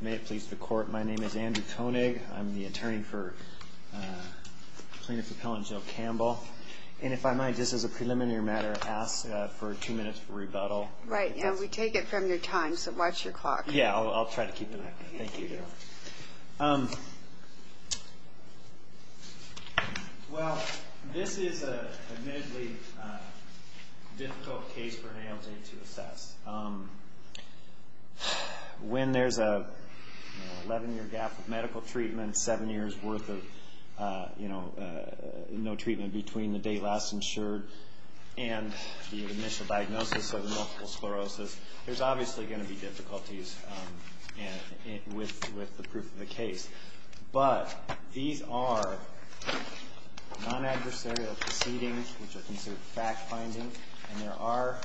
May it please the court, my name is Andrew Koenig, I'm the attorney for Plaintiff Appellant Joe Campbell, and if I might, just as a preliminary matter, ask for two minutes for rebuttal. Right, and we take it from your time, so watch your clock. Yeah, I'll try to keep it that way, thank you. Well, this is a admittedly difficult case for an ALJ to assess. When there's an 11-year gap with medical treatment, 7 years worth of no treatment between the date last insured and the initial diagnosis of multiple sclerosis, there's obviously going to be difficulties with the proof of the case. But these are non-adversarial proceedings, which are considered fact finding, and there are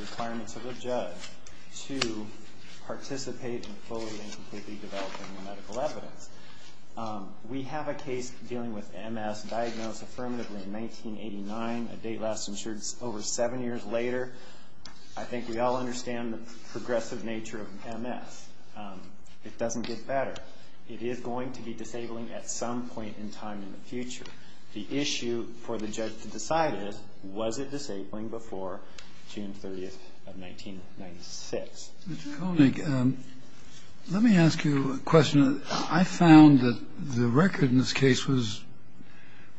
requirements of the judge to participate in fully and completely developing the medical evidence. We have a case dealing with MS diagnosed affirmatively in 1989, a date last insured over 7 years later. I think we all understand the progressive nature of MS. It doesn't get better. It is going to be disabling at some point in time in the future. The issue for the judge to decide is, was it disabling before June 30th of 1996? Mr. Koenig, let me ask you a question. I found that the record in this case was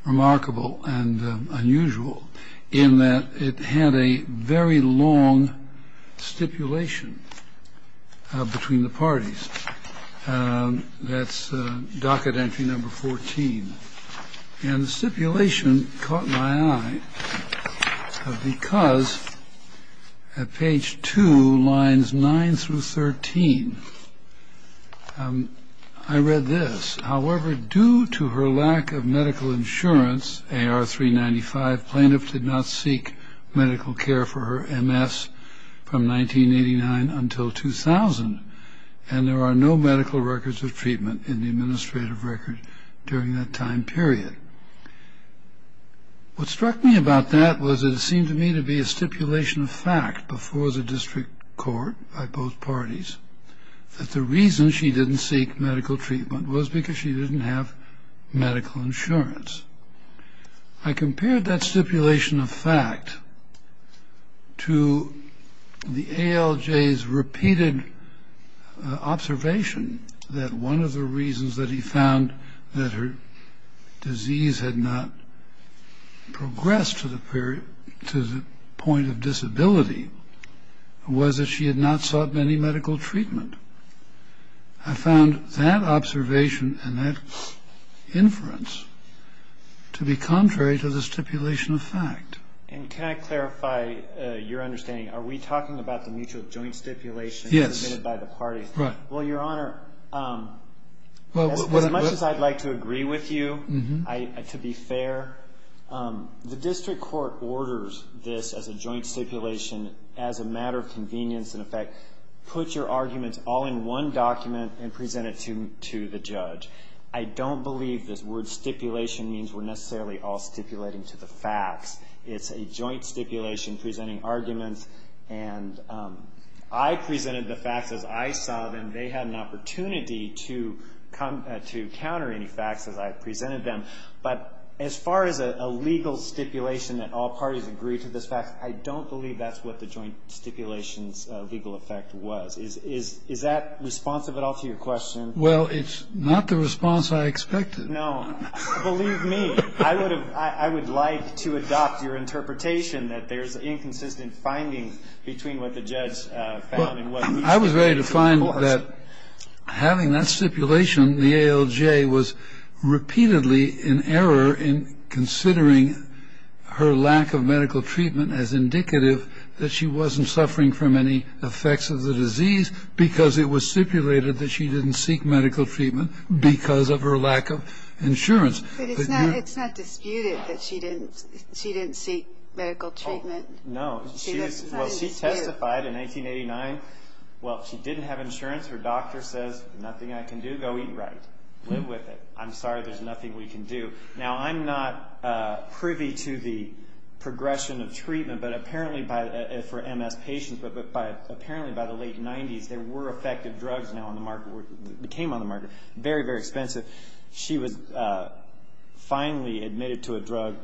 remarkable and unusual in that it had a very long stipulation between the parties. That's docket entry number 14. And the stipulation caught my eye because at page 2, lines 9 through 13, I read this. However, due to her lack of medical insurance, AR 395, plaintiff did not seek medical care for her MS from 1989 until 2000. And there are no medical records of treatment in the administrative record during that time period. What struck me about that was that it seemed to me to be a stipulation of fact before the district court by both parties that the reason she didn't seek medical treatment was because she didn't have medical insurance. I compared that stipulation of fact to the ALJ's repeated observation that one of the reasons that he found that her disease had not progressed to the point of disability was that she had not sought any medical treatment. I found that observation and that inference to be contrary to the stipulation of fact. And can I clarify your understanding? Are we talking about the mutual joint stipulation submitted by the parties? Yes. Right. Well, Your Honor, as much as I'd like to agree with you, to be fair, the district court orders this as a joint stipulation as a matter of convenience and effect. Put your arguments all in one document and present it to the judge. I don't believe this word stipulation means we're necessarily all stipulating to the facts. It's a joint stipulation presenting arguments. And I presented the facts as I saw them. They had an opportunity to counter any facts as I presented them. But as far as a legal stipulation that all parties agree to this fact, I don't believe that's what the joint stipulation's legal effect was. Is that responsive at all to your question? Well, it's not the response I expected. No. Believe me. I would like to adopt your interpretation that there's inconsistent findings between what the judge found and what we found. I was ready to find that having that stipulation, the ALJ was repeatedly in error in considering her lack of medical treatment as indicative that she wasn't suffering from any effects of the disease because it was stipulated that she didn't seek medical treatment because of her lack of insurance. But it's not disputed that she didn't seek medical treatment. No. Well, she testified in 1989. Well, she didn't have insurance. Her doctor says, nothing I can do. Go eat right. Live with it. I'm sorry. There's nothing we can do. Now, I'm not privy to the progression of treatment for MS patients, but apparently by the late 90s there were effective drugs now on the market, became on the market, very, very expensive. She was finally admitted to a drug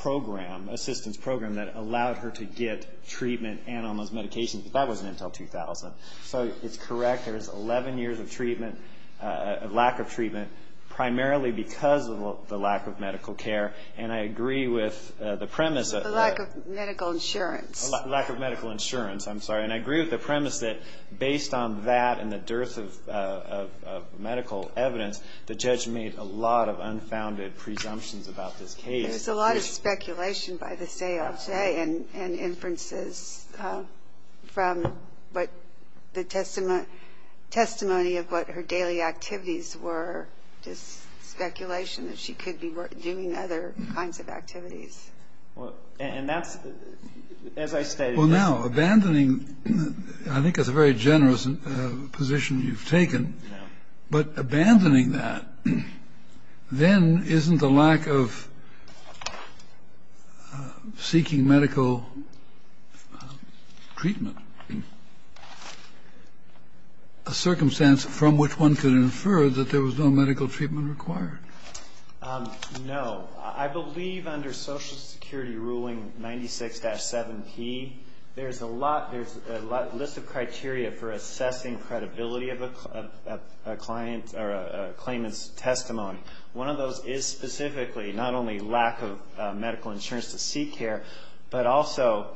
program, assistance program, that allowed her to get treatment and almost medication. But that wasn't until 2000. So it's correct. There was 11 years of treatment, of lack of treatment, primarily because of the lack of medical care. And I agree with the premise. The lack of medical insurance. Lack of medical insurance. I'm sorry. And I agree with the premise that based on that and the dearth of medical evidence, the judge made a lot of unfounded presumptions about this case. There's a lot of speculation by this day, I'll say, and inferences from the testimony of what her daily activities were, just speculation that she could be doing other kinds of activities. And that's, as I stated. Well, now, abandoning, I think that's a very generous position you've taken, but abandoning that, then isn't the lack of seeking medical treatment a circumstance from which one could infer that there was no medical treatment required? No. I believe under Social Security ruling 96-7P, there's a list of criteria for assessing credibility of a claimant's testimony. One of those is specifically not only lack of medical insurance to seek care, but also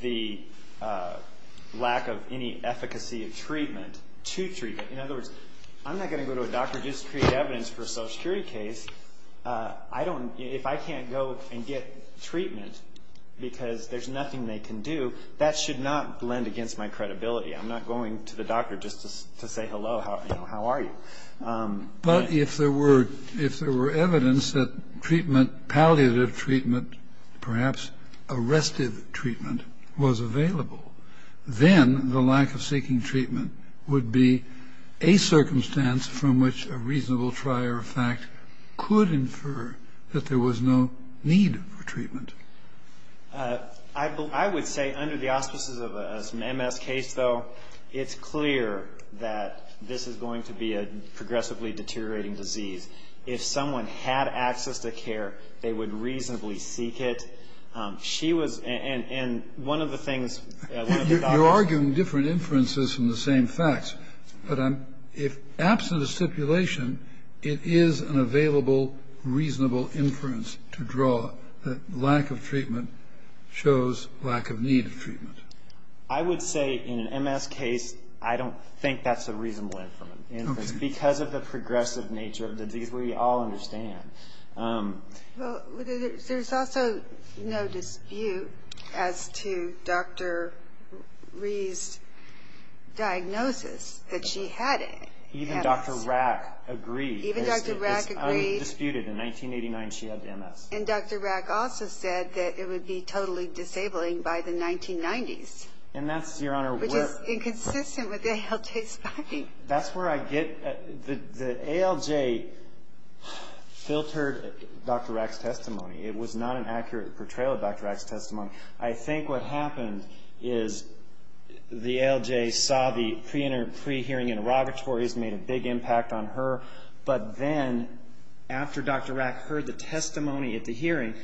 the lack of any efficacy of treatment to treatment. In other words, I'm not going to go to a doctor just to create evidence for a Social Security case. If I can't go and get treatment because there's nothing they can do, that should not blend against my credibility. I'm not going to the doctor just to say, hello, how are you? But if there were evidence that palliative treatment, perhaps arrestive treatment, was available, then the lack of seeking treatment would be a circumstance from which a reasonable trier of fact could infer that there was no need for treatment. I would say under the auspices of an MS case, though, it's clear that this is going to be a progressively deteriorating disease. If someone had access to care, they would reasonably seek it. She was and one of the things, one of the doctors. Kennedy. You're arguing different inferences from the same facts. But I'm, if absent a stipulation, it is an available, reasonable inference to draw that lack of treatment shows lack of need of treatment. I would say in an MS case, I don't think that's a reasonable inference, because of the progressive nature of the disease we all understand. Well, there's also no dispute as to Dr. Rhee's diagnosis that she had MS. Even Dr. Rack agreed. Even Dr. Rack agreed. It's undisputed. In 1989, she had MS. And Dr. Rack also said that it would be totally disabling by the 1990s. And that's, Your Honor, where. Which is inconsistent with ALJ spying. I think that's where I get, the ALJ filtered Dr. Rack's testimony. It was not an accurate portrayal of Dr. Rack's testimony. I think what happened is the ALJ saw the pre-hearing interrogatories made a big impact on her. But then, after Dr. Rack heard the testimony at the hearing,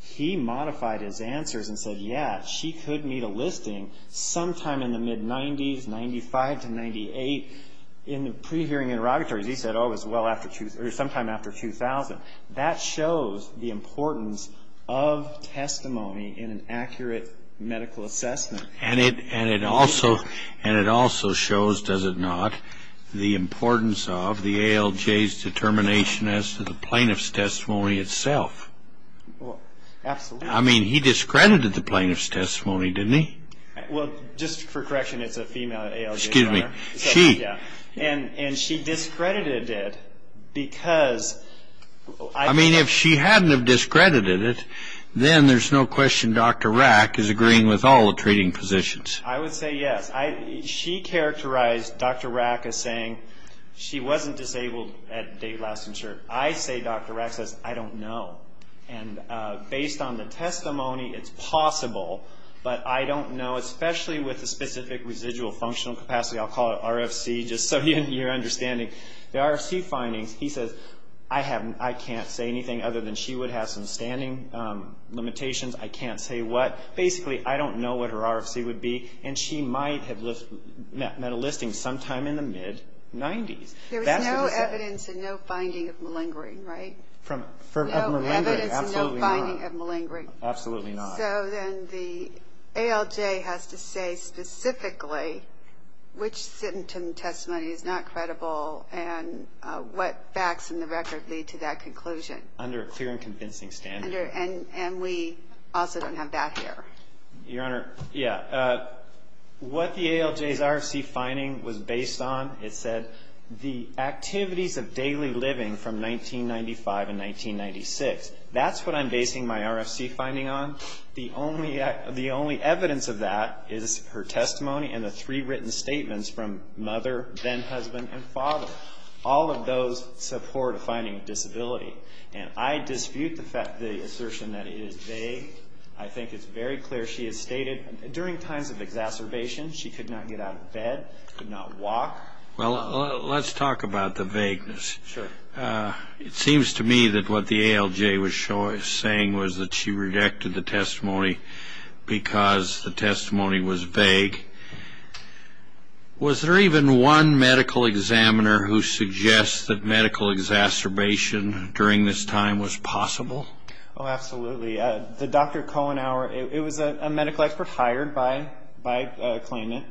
he modified his answers and said, yeah, she could meet a listing sometime in the mid-90s, 95 to 98. In the pre-hearing interrogatories, he said, oh, it was sometime after 2000. That shows the importance of testimony in an accurate medical assessment. And it also shows, does it not, the importance of the ALJ's determination as to the plaintiff's testimony itself. Absolutely. I mean, he discredited the plaintiff's testimony, didn't he? Well, just for correction, it's a female ALJ, Your Honor. Excuse me. And she discredited it because... I mean, if she hadn't have discredited it, then there's no question Dr. Rack is agreeing with all the treating positions. I would say yes. She characterized Dr. Rack as saying she wasn't disabled at Dave Lauston Shirt. I say Dr. Rack says, I don't know. And based on the testimony, it's possible, but I don't know, especially with the specific residual functional capacity. I'll call it RFC, just so you're understanding. The RFC findings, he says, I can't say anything other than she would have some standing limitations. I can't say what. Basically, I don't know what her RFC would be, and she might have met a listing sometime in the mid-90s. There was no evidence and no finding of malingering, right? No evidence and no finding of malingering. Absolutely not. So then the ALJ has to say specifically which symptom testimony is not credible and what facts in the record lead to that conclusion. Under a clear and convincing standard. And we also don't have that here. Your Honor, yeah. What the ALJ's RFC finding was based on, it said, the activities of daily living from 1995 and 1996. That's what I'm basing my RFC finding on. The only evidence of that is her testimony and the three written statements from mother, then husband, and father. All of those support a finding of disability. And I dispute the assertion that it is vague. I think it's very clear she has stated during times of exacerbation she could not get out of bed, could not walk. Well, let's talk about the vagueness. Sure. It seems to me that what the ALJ was saying was that she rejected the testimony because the testimony was vague. Was there even one medical examiner who suggests that medical exacerbation during this time was possible? Oh, absolutely. The Dr. Kohenauer, it was a medical expert hired by Klingman.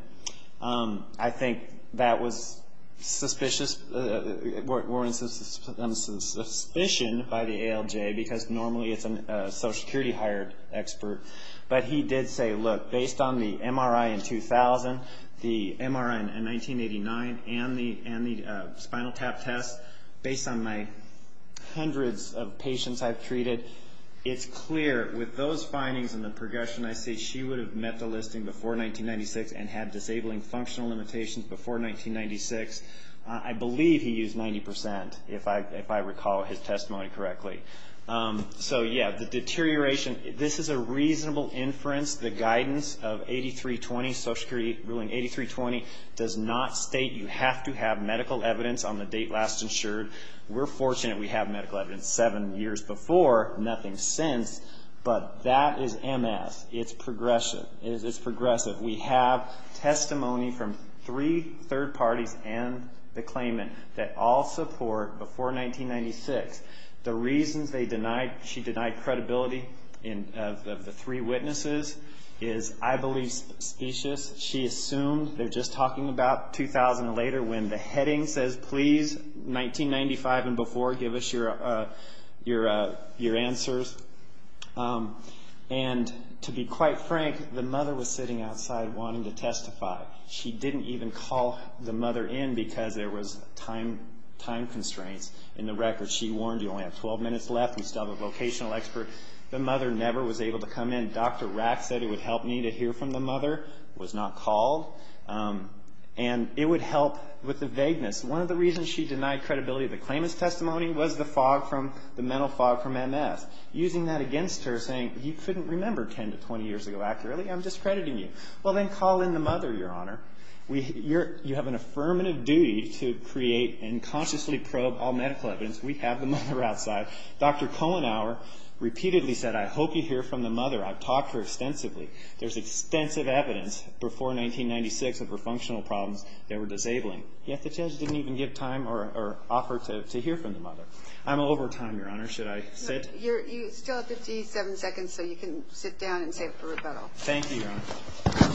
I think that was suspicious, warrants suspicion by the ALJ because normally it's a Social Security hired expert. But he did say, look, based on the MRI in 2000, the MRI in 1989, and the spinal tap test, based on my hundreds of patients I've treated, it's clear with those findings and the progression, I say she would have met the listing before 1996 and had disabling functional limitations before 1996. I believe he used 90% if I recall his testimony correctly. So, yeah, the deterioration, this is a reasonable inference. The guidance of 8320, Social Security ruling 8320, does not state you have to have medical evidence on the date last insured. We're fortunate we have medical evidence seven years before, nothing since, but that is MS. It's progressive. We have testimony from three third parties and the claimant that all support before 1996. The reasons she denied credibility of the three witnesses is, I believe, suspicious. She assumed, they're just talking about 2000 later when the heading says, please, 1995 and before, give us your answers. And to be quite frank, the mother was sitting outside wanting to testify. She didn't even call the mother in because there was time constraints in the record. She warned, you only have 12 minutes left, we still have a vocational expert. The mother never was able to come in. Dr. Rack said it would help me to hear from the mother, was not called. And it would help with the vagueness. One of the reasons she denied credibility of the claimant's testimony was the fog from, the mental fog from MS. Using that against her, saying you couldn't remember 10 to 20 years ago accurately, I'm discrediting you. Well, then call in the mother, Your Honor. You have an affirmative duty to create and consciously probe all medical evidence. We have the mother outside. Dr. Kohenauer repeatedly said, I hope you hear from the mother. I've talked to her extensively. There's extensive evidence before 1996 of her functional problems that were disabling. Yet the judge didn't even give time or offer to hear from the mother. I'm over time, Your Honor. Should I sit? You still have 57 seconds, so you can sit down and say it for rebuttal. Thank you, Your Honor.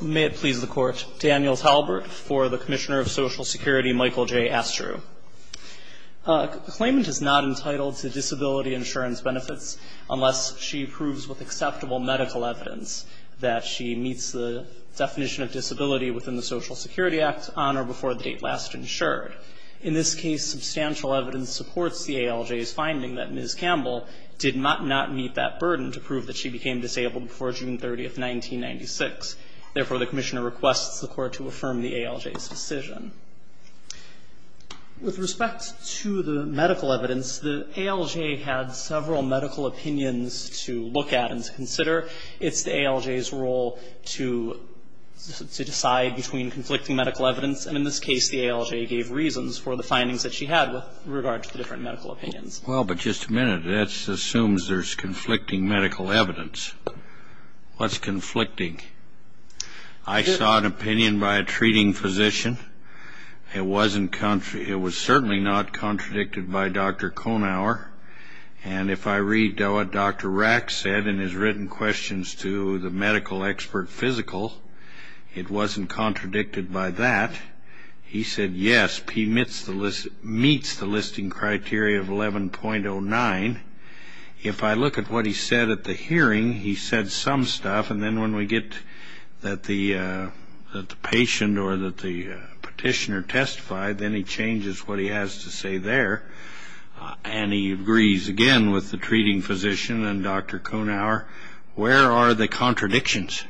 May it please the Court. Daniel Talbert for the Commissioner of Social Security, Michael J. Astru. The claimant is not entitled to disability insurance benefits unless she proves with acceptable medical evidence that she meets the definition of disability within the Social Security Act on or before the date last insured. In this case, substantial evidence supports the ALJ's finding that Ms. Campbell did not meet that burden to prove that she became disabled before June 30, 1996. Therefore, the Commissioner requests the Court to affirm the ALJ's decision. With respect to the medical evidence, the ALJ had several medical opinions to look at and to consider. It's the ALJ's role to decide between conflicting medical evidence. And in this case, the ALJ gave reasons for the findings that she had with regard to the different medical opinions. Well, but just a minute. That assumes there's conflicting medical evidence. What's conflicting? I saw an opinion by a treating physician. It was certainly not contradicted by Dr. Konauer. And if I read what Dr. Rack said in his written questions to the medical expert physical, it wasn't contradicted by that. He said, yes, P meets the listing criteria of 11.09. If I look at what he said at the hearing, he said some stuff, and then when we get that the patient or that the petitioner testified, then he changes what he has to say there. And he agrees again with the treating physician and Dr. Konauer. Where are the contradictions?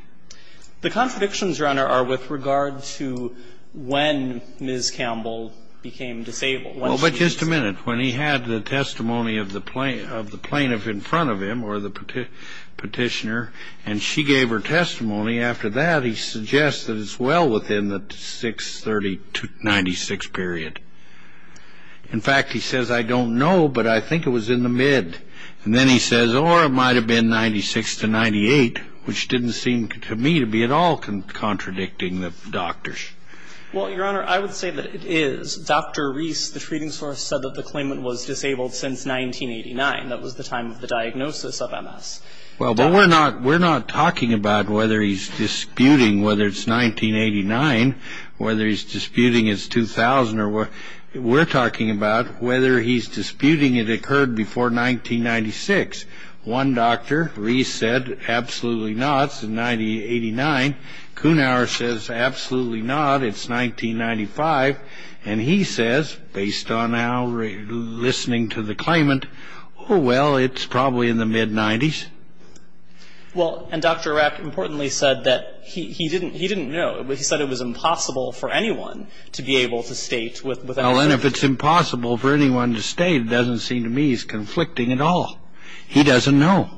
The contradictions, Your Honor, are with regard to when Ms. Campbell became disabled. Well, but just a minute. When he had the testimony of the plaintiff in front of him or the petitioner, and she gave her testimony, after that he suggests that it's well within the 630-96 period. In fact, he says, I don't know, but I think it was in the mid. And then he says, or it might have been 96 to 98, which didn't seem to me to be at all contradicting the doctors. Well, Your Honor, I would say that it is. Dr. Reese, the treating source, said that the claimant was disabled since 1989. That was the time of the diagnosis of Ms. Well, but we're not talking about whether he's disputing whether it's 1989, whether he's disputing it's 2000, or we're talking about whether he's disputing it occurred before 1996. One doctor, Reese, said, absolutely not, it's 1989. Konauer says, absolutely not, it's 1995. And he says, based on our listening to the claimant, oh, well, it's probably in the mid-90s. Well, and Dr. Arack importantly said that he didn't know. He said it was impossible for anyone to be able to state with any certainty. Well, and if it's impossible for anyone to state, it doesn't seem to me he's conflicting at all. He doesn't know.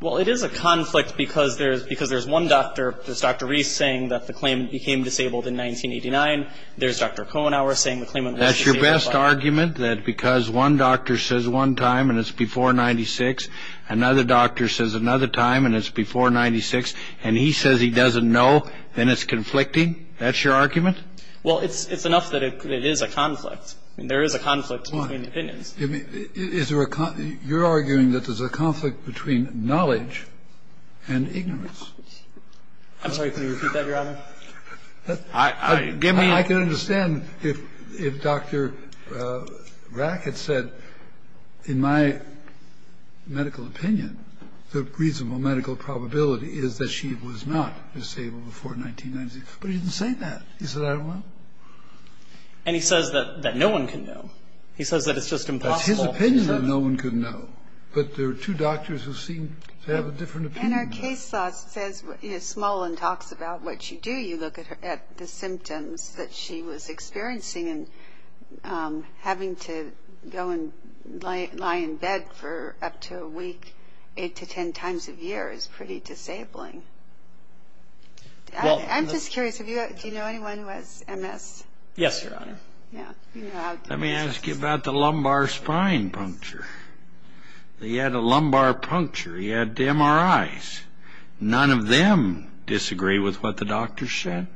Well, it is a conflict because there's one doctor, there's Dr. Reese, saying that the claimant became disabled in 1989. There's Dr. Konauer saying the claimant was disabled. That's your best argument, that because one doctor says one time and it's before 1996, another doctor says another time and it's before 1996, and he says he doesn't know, then it's conflicting? That's your argument? Well, it's enough that it is a conflict. I mean, there is a conflict between opinions. Why? You're arguing that there's a conflict between knowledge and ignorance. I'm sorry, can you repeat that, Your Honor? I can understand if Dr. Arack had said, in my medical opinion, the reasonable medical probability is that she was not disabled before 1996. But he didn't say that. He said, I don't know. And he says that no one can know. He says that it's just impossible. That's his opinion that no one can know. But there are two doctors who seem to have a different opinion. In her case, Smolin talks about what you do. You look at the symptoms that she was experiencing and having to go and lie in bed for up to a week eight to ten times a year is pretty disabling. I'm just curious, do you know anyone who has MS? Yes, Your Honor. Let me ask you about the lumbar spine puncture. He had a lumbar puncture. He had MRIs. None of them disagree with what the doctors said.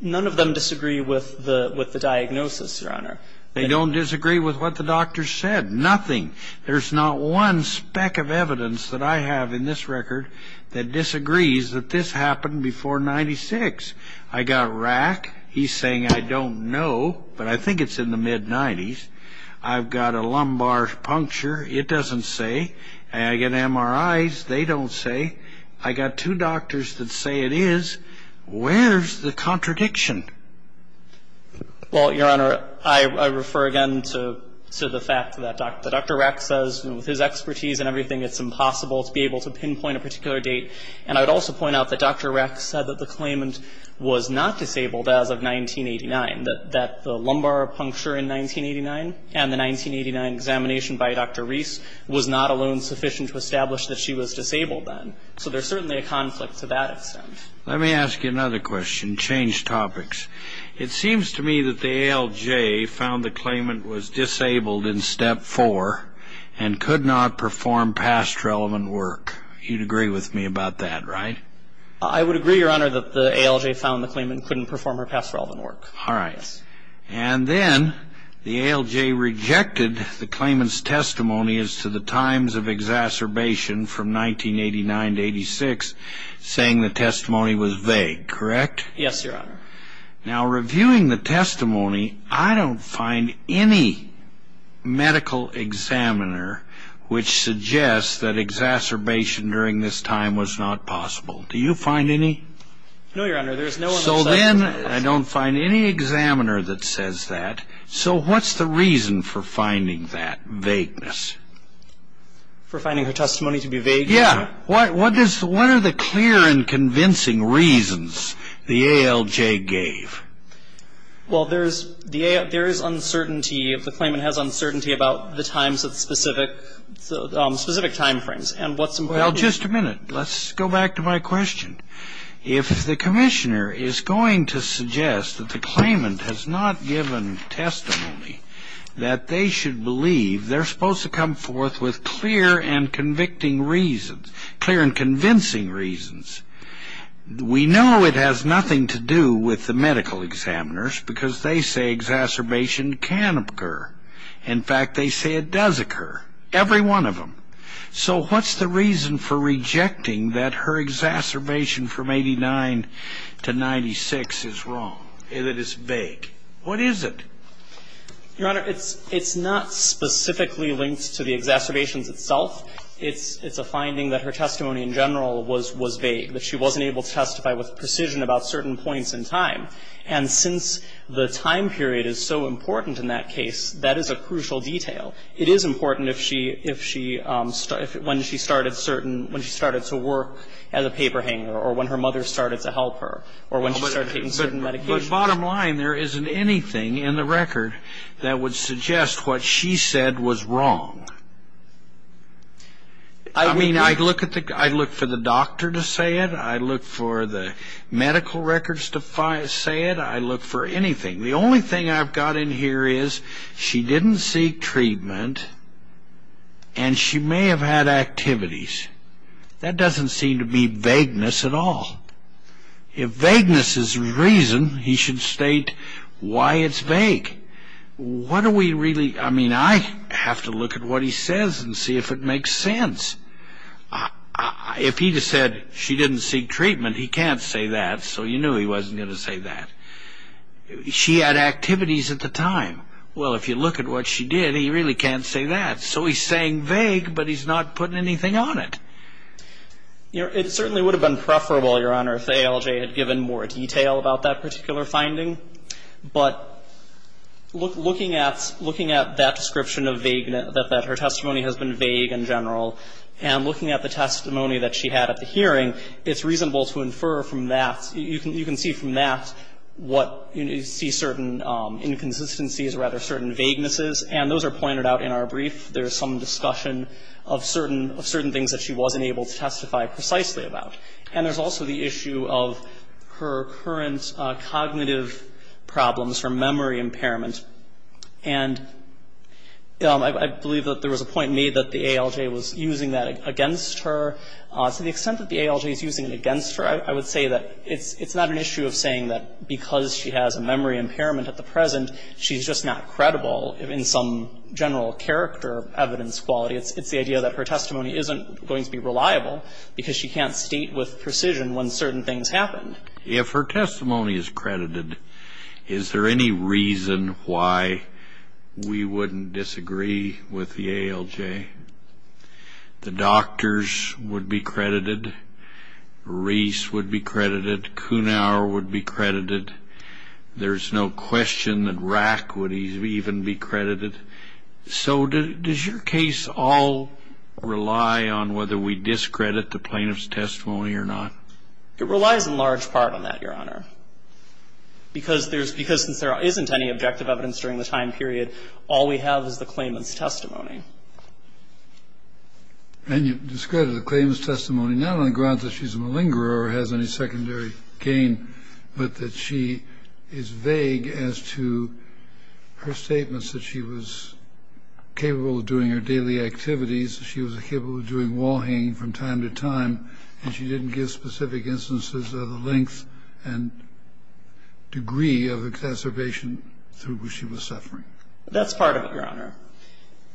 None of them disagree with the diagnosis, Your Honor. They don't disagree with what the doctors said, nothing. There's not one speck of evidence that I have in this record that disagrees that this happened before 1996. I got Arack. He's saying, I don't know, but I think it's in the mid-'90s. I've got a lumbar puncture. It doesn't say. I got MRIs. They don't say. I got two doctors that say it is. Where's the contradiction? Well, Your Honor, I refer again to the fact that Dr. Arack says with his expertise and everything it's impossible to be able to pinpoint a particular date. And I would also point out that Dr. Arack said that the claimant was not disabled as of 1989, that the lumbar puncture in 1989 and the 1989 examination by Dr. Reese was not alone sufficient to establish that she was disabled then. So there's certainly a conflict to that extent. Let me ask you another question, change topics. It seems to me that the ALJ found the claimant was disabled in Step 4 and could not perform past relevant work. You'd agree with me about that, right? I would agree, Your Honor, that the ALJ found the claimant couldn't perform her past relevant work. All right. And then the ALJ rejected the claimant's testimony as to the times of exacerbation from 1989 to 1986, saying the testimony was vague, correct? Yes, Your Honor. Now, reviewing the testimony, I don't find any medical examiner which suggests that exacerbation during this time was not possible. Do you find any? No, Your Honor. So then I don't find any examiner that says that. So what's the reason for finding that vagueness? For finding her testimony to be vague? Yeah. What are the clear and convincing reasons the ALJ gave? Well, there is uncertainty. The claimant has uncertainty about the times of specific timeframes. Well, just a minute. Let's go back to my question. If the commissioner is going to suggest that the claimant has not given testimony, that they should believe they're supposed to come forth with clear and convicting reasons, clear and convincing reasons, we know it has nothing to do with the medical examiners because they say exacerbation can occur. In fact, they say it does occur, every one of them. So what's the reason for rejecting that her exacerbation from 89 to 96 is wrong, that it's vague? What is it? Your Honor, it's not specifically linked to the exacerbations itself. It's a finding that her testimony in general was vague, that she wasn't able to testify with precision about certain points in time. And since the time period is so important in that case, that is a crucial detail. It is important when she started to work as a paper hanger or when her mother started to help her or when she started taking certain medications. But bottom line, there isn't anything in the record that would suggest what she said was wrong. I mean, I'd look for the doctor to say it. I'd look for the medical records to say it. I'd look for anything. The only thing I've got in here is she didn't seek treatment and she may have had activities. That doesn't seem to be vagueness at all. If vagueness is the reason, he should state why it's vague. What do we really need? I mean, I have to look at what he says and see if it makes sense. If he said she didn't seek treatment, he can't say that, so you knew he wasn't going to say that. She had activities at the time. Well, if you look at what she did, he really can't say that. So he's saying vague, but he's not putting anything on it. It certainly would have been preferable, Your Honor, if ALJ had given more detail about that particular finding. But looking at that description of vagueness, that her testimony has been vague in general, and looking at the testimony that she had at the hearing, it's reasonable to infer from that you can see from that what you see certain inconsistencies or rather certain vaguenesses. And those are pointed out in our brief. There's some discussion of certain things that she wasn't able to testify precisely about. And there's also the issue of her current cognitive problems, her memory impairment. And I believe that there was a point made that the ALJ was using that against her. To the extent that the ALJ is using it against her, I would say that it's not an issue of saying that because she has a memory impairment at the present, she's just not credible in some general character evidence quality. It's the idea that her testimony isn't going to be reliable because she can't state with precision when certain things happen. If her testimony is credited, is there any reason why we wouldn't disagree with the ALJ? The doctors would be credited. Reese would be credited. Kunauer would be credited. There's no question that Rack would even be credited. So does your case all rely on whether we discredit the plaintiff's testimony or not? It relies in large part on that, Your Honor. Because there's – because since there isn't any objective evidence during the time period, all we have is the claimant's testimony. And you discredit the claimant's testimony not on the grounds that she's a malingerer or has any secondary gain, but that she is vague as to her statements that she was capable of doing her daily activities, that she was capable of doing wall hanging from time to time, and she didn't give specific instances of the length and degree of exacerbation through which she was suffering. That's part of it, Your Honor.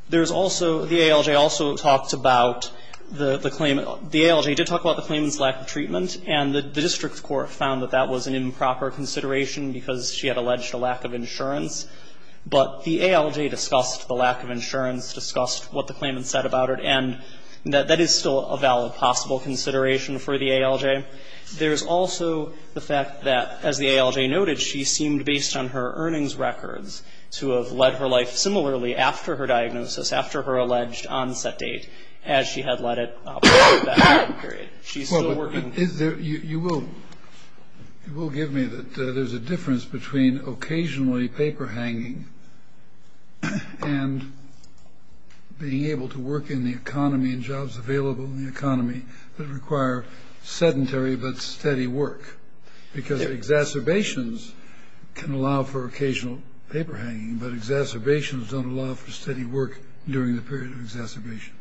There's also – the ALJ also talks about the claimant – the ALJ did talk about the claimant's lack of treatment, and the district court found that that was an improper consideration because she had alleged a lack of insurance. But the ALJ discussed the lack of insurance, discussed what the claimant said about her, and that that is still a valid possible consideration for the ALJ. There's also the fact that, as the ALJ noted, she seemed, based on her earnings records, to have led her life similarly after her diagnosis, after her alleged onset date, as she had led it throughout that time period. She's still working. Kennedy. Well, but is there – you will – you will give me that there's a difference between occasionally paper hanging and being able to work in the economy and jobs available in the economy that require sedentary but steady work? Because exacerbations can allow for occasional paper hanging, but exacerbations don't allow for steady work during the period of exacerbation.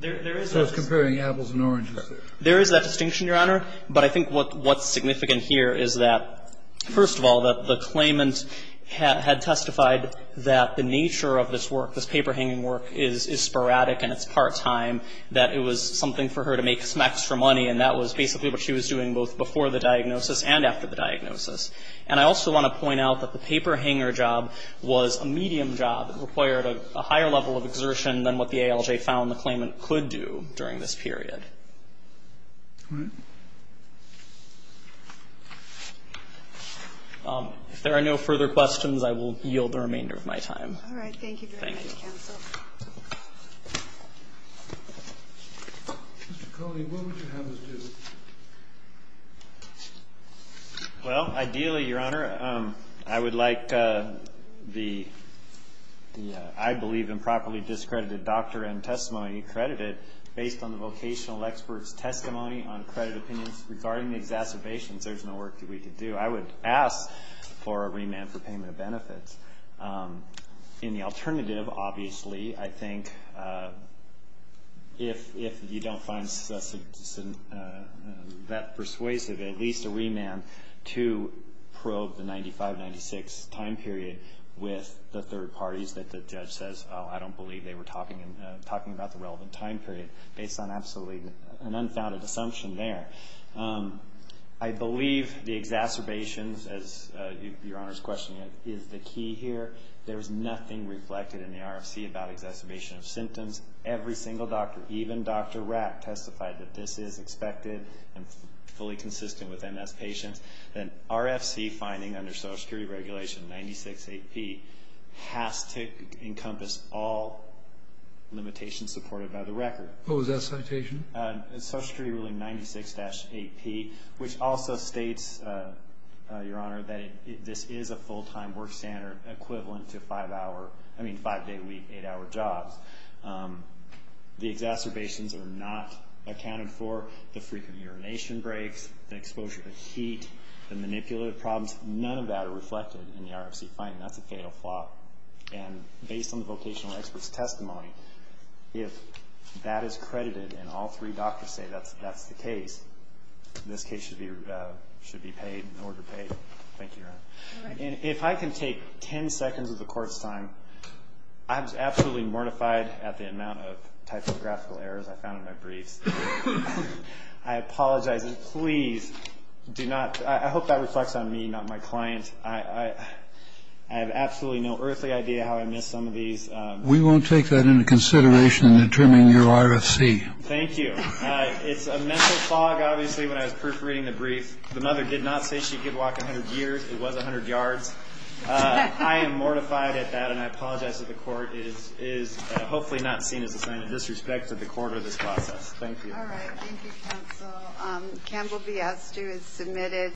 There is that distinction. I was comparing apples and oranges there. There is that distinction, Your Honor. But I think what's significant here is that, first of all, that the claimant had testified that the nature of this work, this paper hanging work, is sporadic and it's part-time, that it was something for her to make some extra money, and that was basically what she was doing both before the diagnosis and after the diagnosis. And I also want to point out that the paper hanger job was a medium job. It required a higher level of exertion than what the ALJ found the claimant could do during this period. All right. If there are no further questions, I will yield the remainder of my time. All right. Thank you very much, counsel. Thank you. Mr. Coley, what would you have us do? Well, ideally, Your Honor, I would like the, I believe, improperly discredited doctor and testimony credited based on the vocational expert's testimony on credit opinions regarding the exacerbations. There's no work that we could do. I would ask for a remand for payment of benefits. In the alternative, obviously, I think if you don't find that persuasive, at least a remand to probe the 95-96 time period with the third parties that the judge says, oh, I don't believe they were talking about the relevant time period, based on absolutely an unfounded assumption there. I believe the exacerbations, as Your Honor is questioning, is the key here. There is nothing reflected in the RFC about exacerbation of symptoms. Every single doctor, even Dr. Rapp, testified that this is expected and fully consistent with MS patients. The RFC finding under Social Security Regulation 96-8P has to encompass all limitations supported by the record. What was that citation? Social Security Ruling 96-8P, which also states, Your Honor, that this is a full-time work standard equivalent to five-day week, eight-hour jobs. The exacerbations are not accounted for. The frequent urination breaks, the exposure to heat, the manipulative problems, none of that are reflected in the RFC finding. That's a fatal flaw. Based on the vocational expert's testimony, if that is credited and all three doctors say that's the case, this case should be paid, an order paid. Thank you, Your Honor. If I can take 10 seconds of the Court's time, I was absolutely mortified at the I hope that reflects on me, not my client. I have absolutely no earthly idea how I missed some of these. We won't take that into consideration in determining your RFC. Thank you. It's a mental fog, obviously, when I was proofreading the brief. The mother did not say she could walk 100 years. It was 100 yards. I am mortified at that, and I apologize to the Court. It is hopefully not seen as a sign of disrespect to the Court or this process. Thank you. All right. Thank you, counsel. Campbell B. Astew is submitted.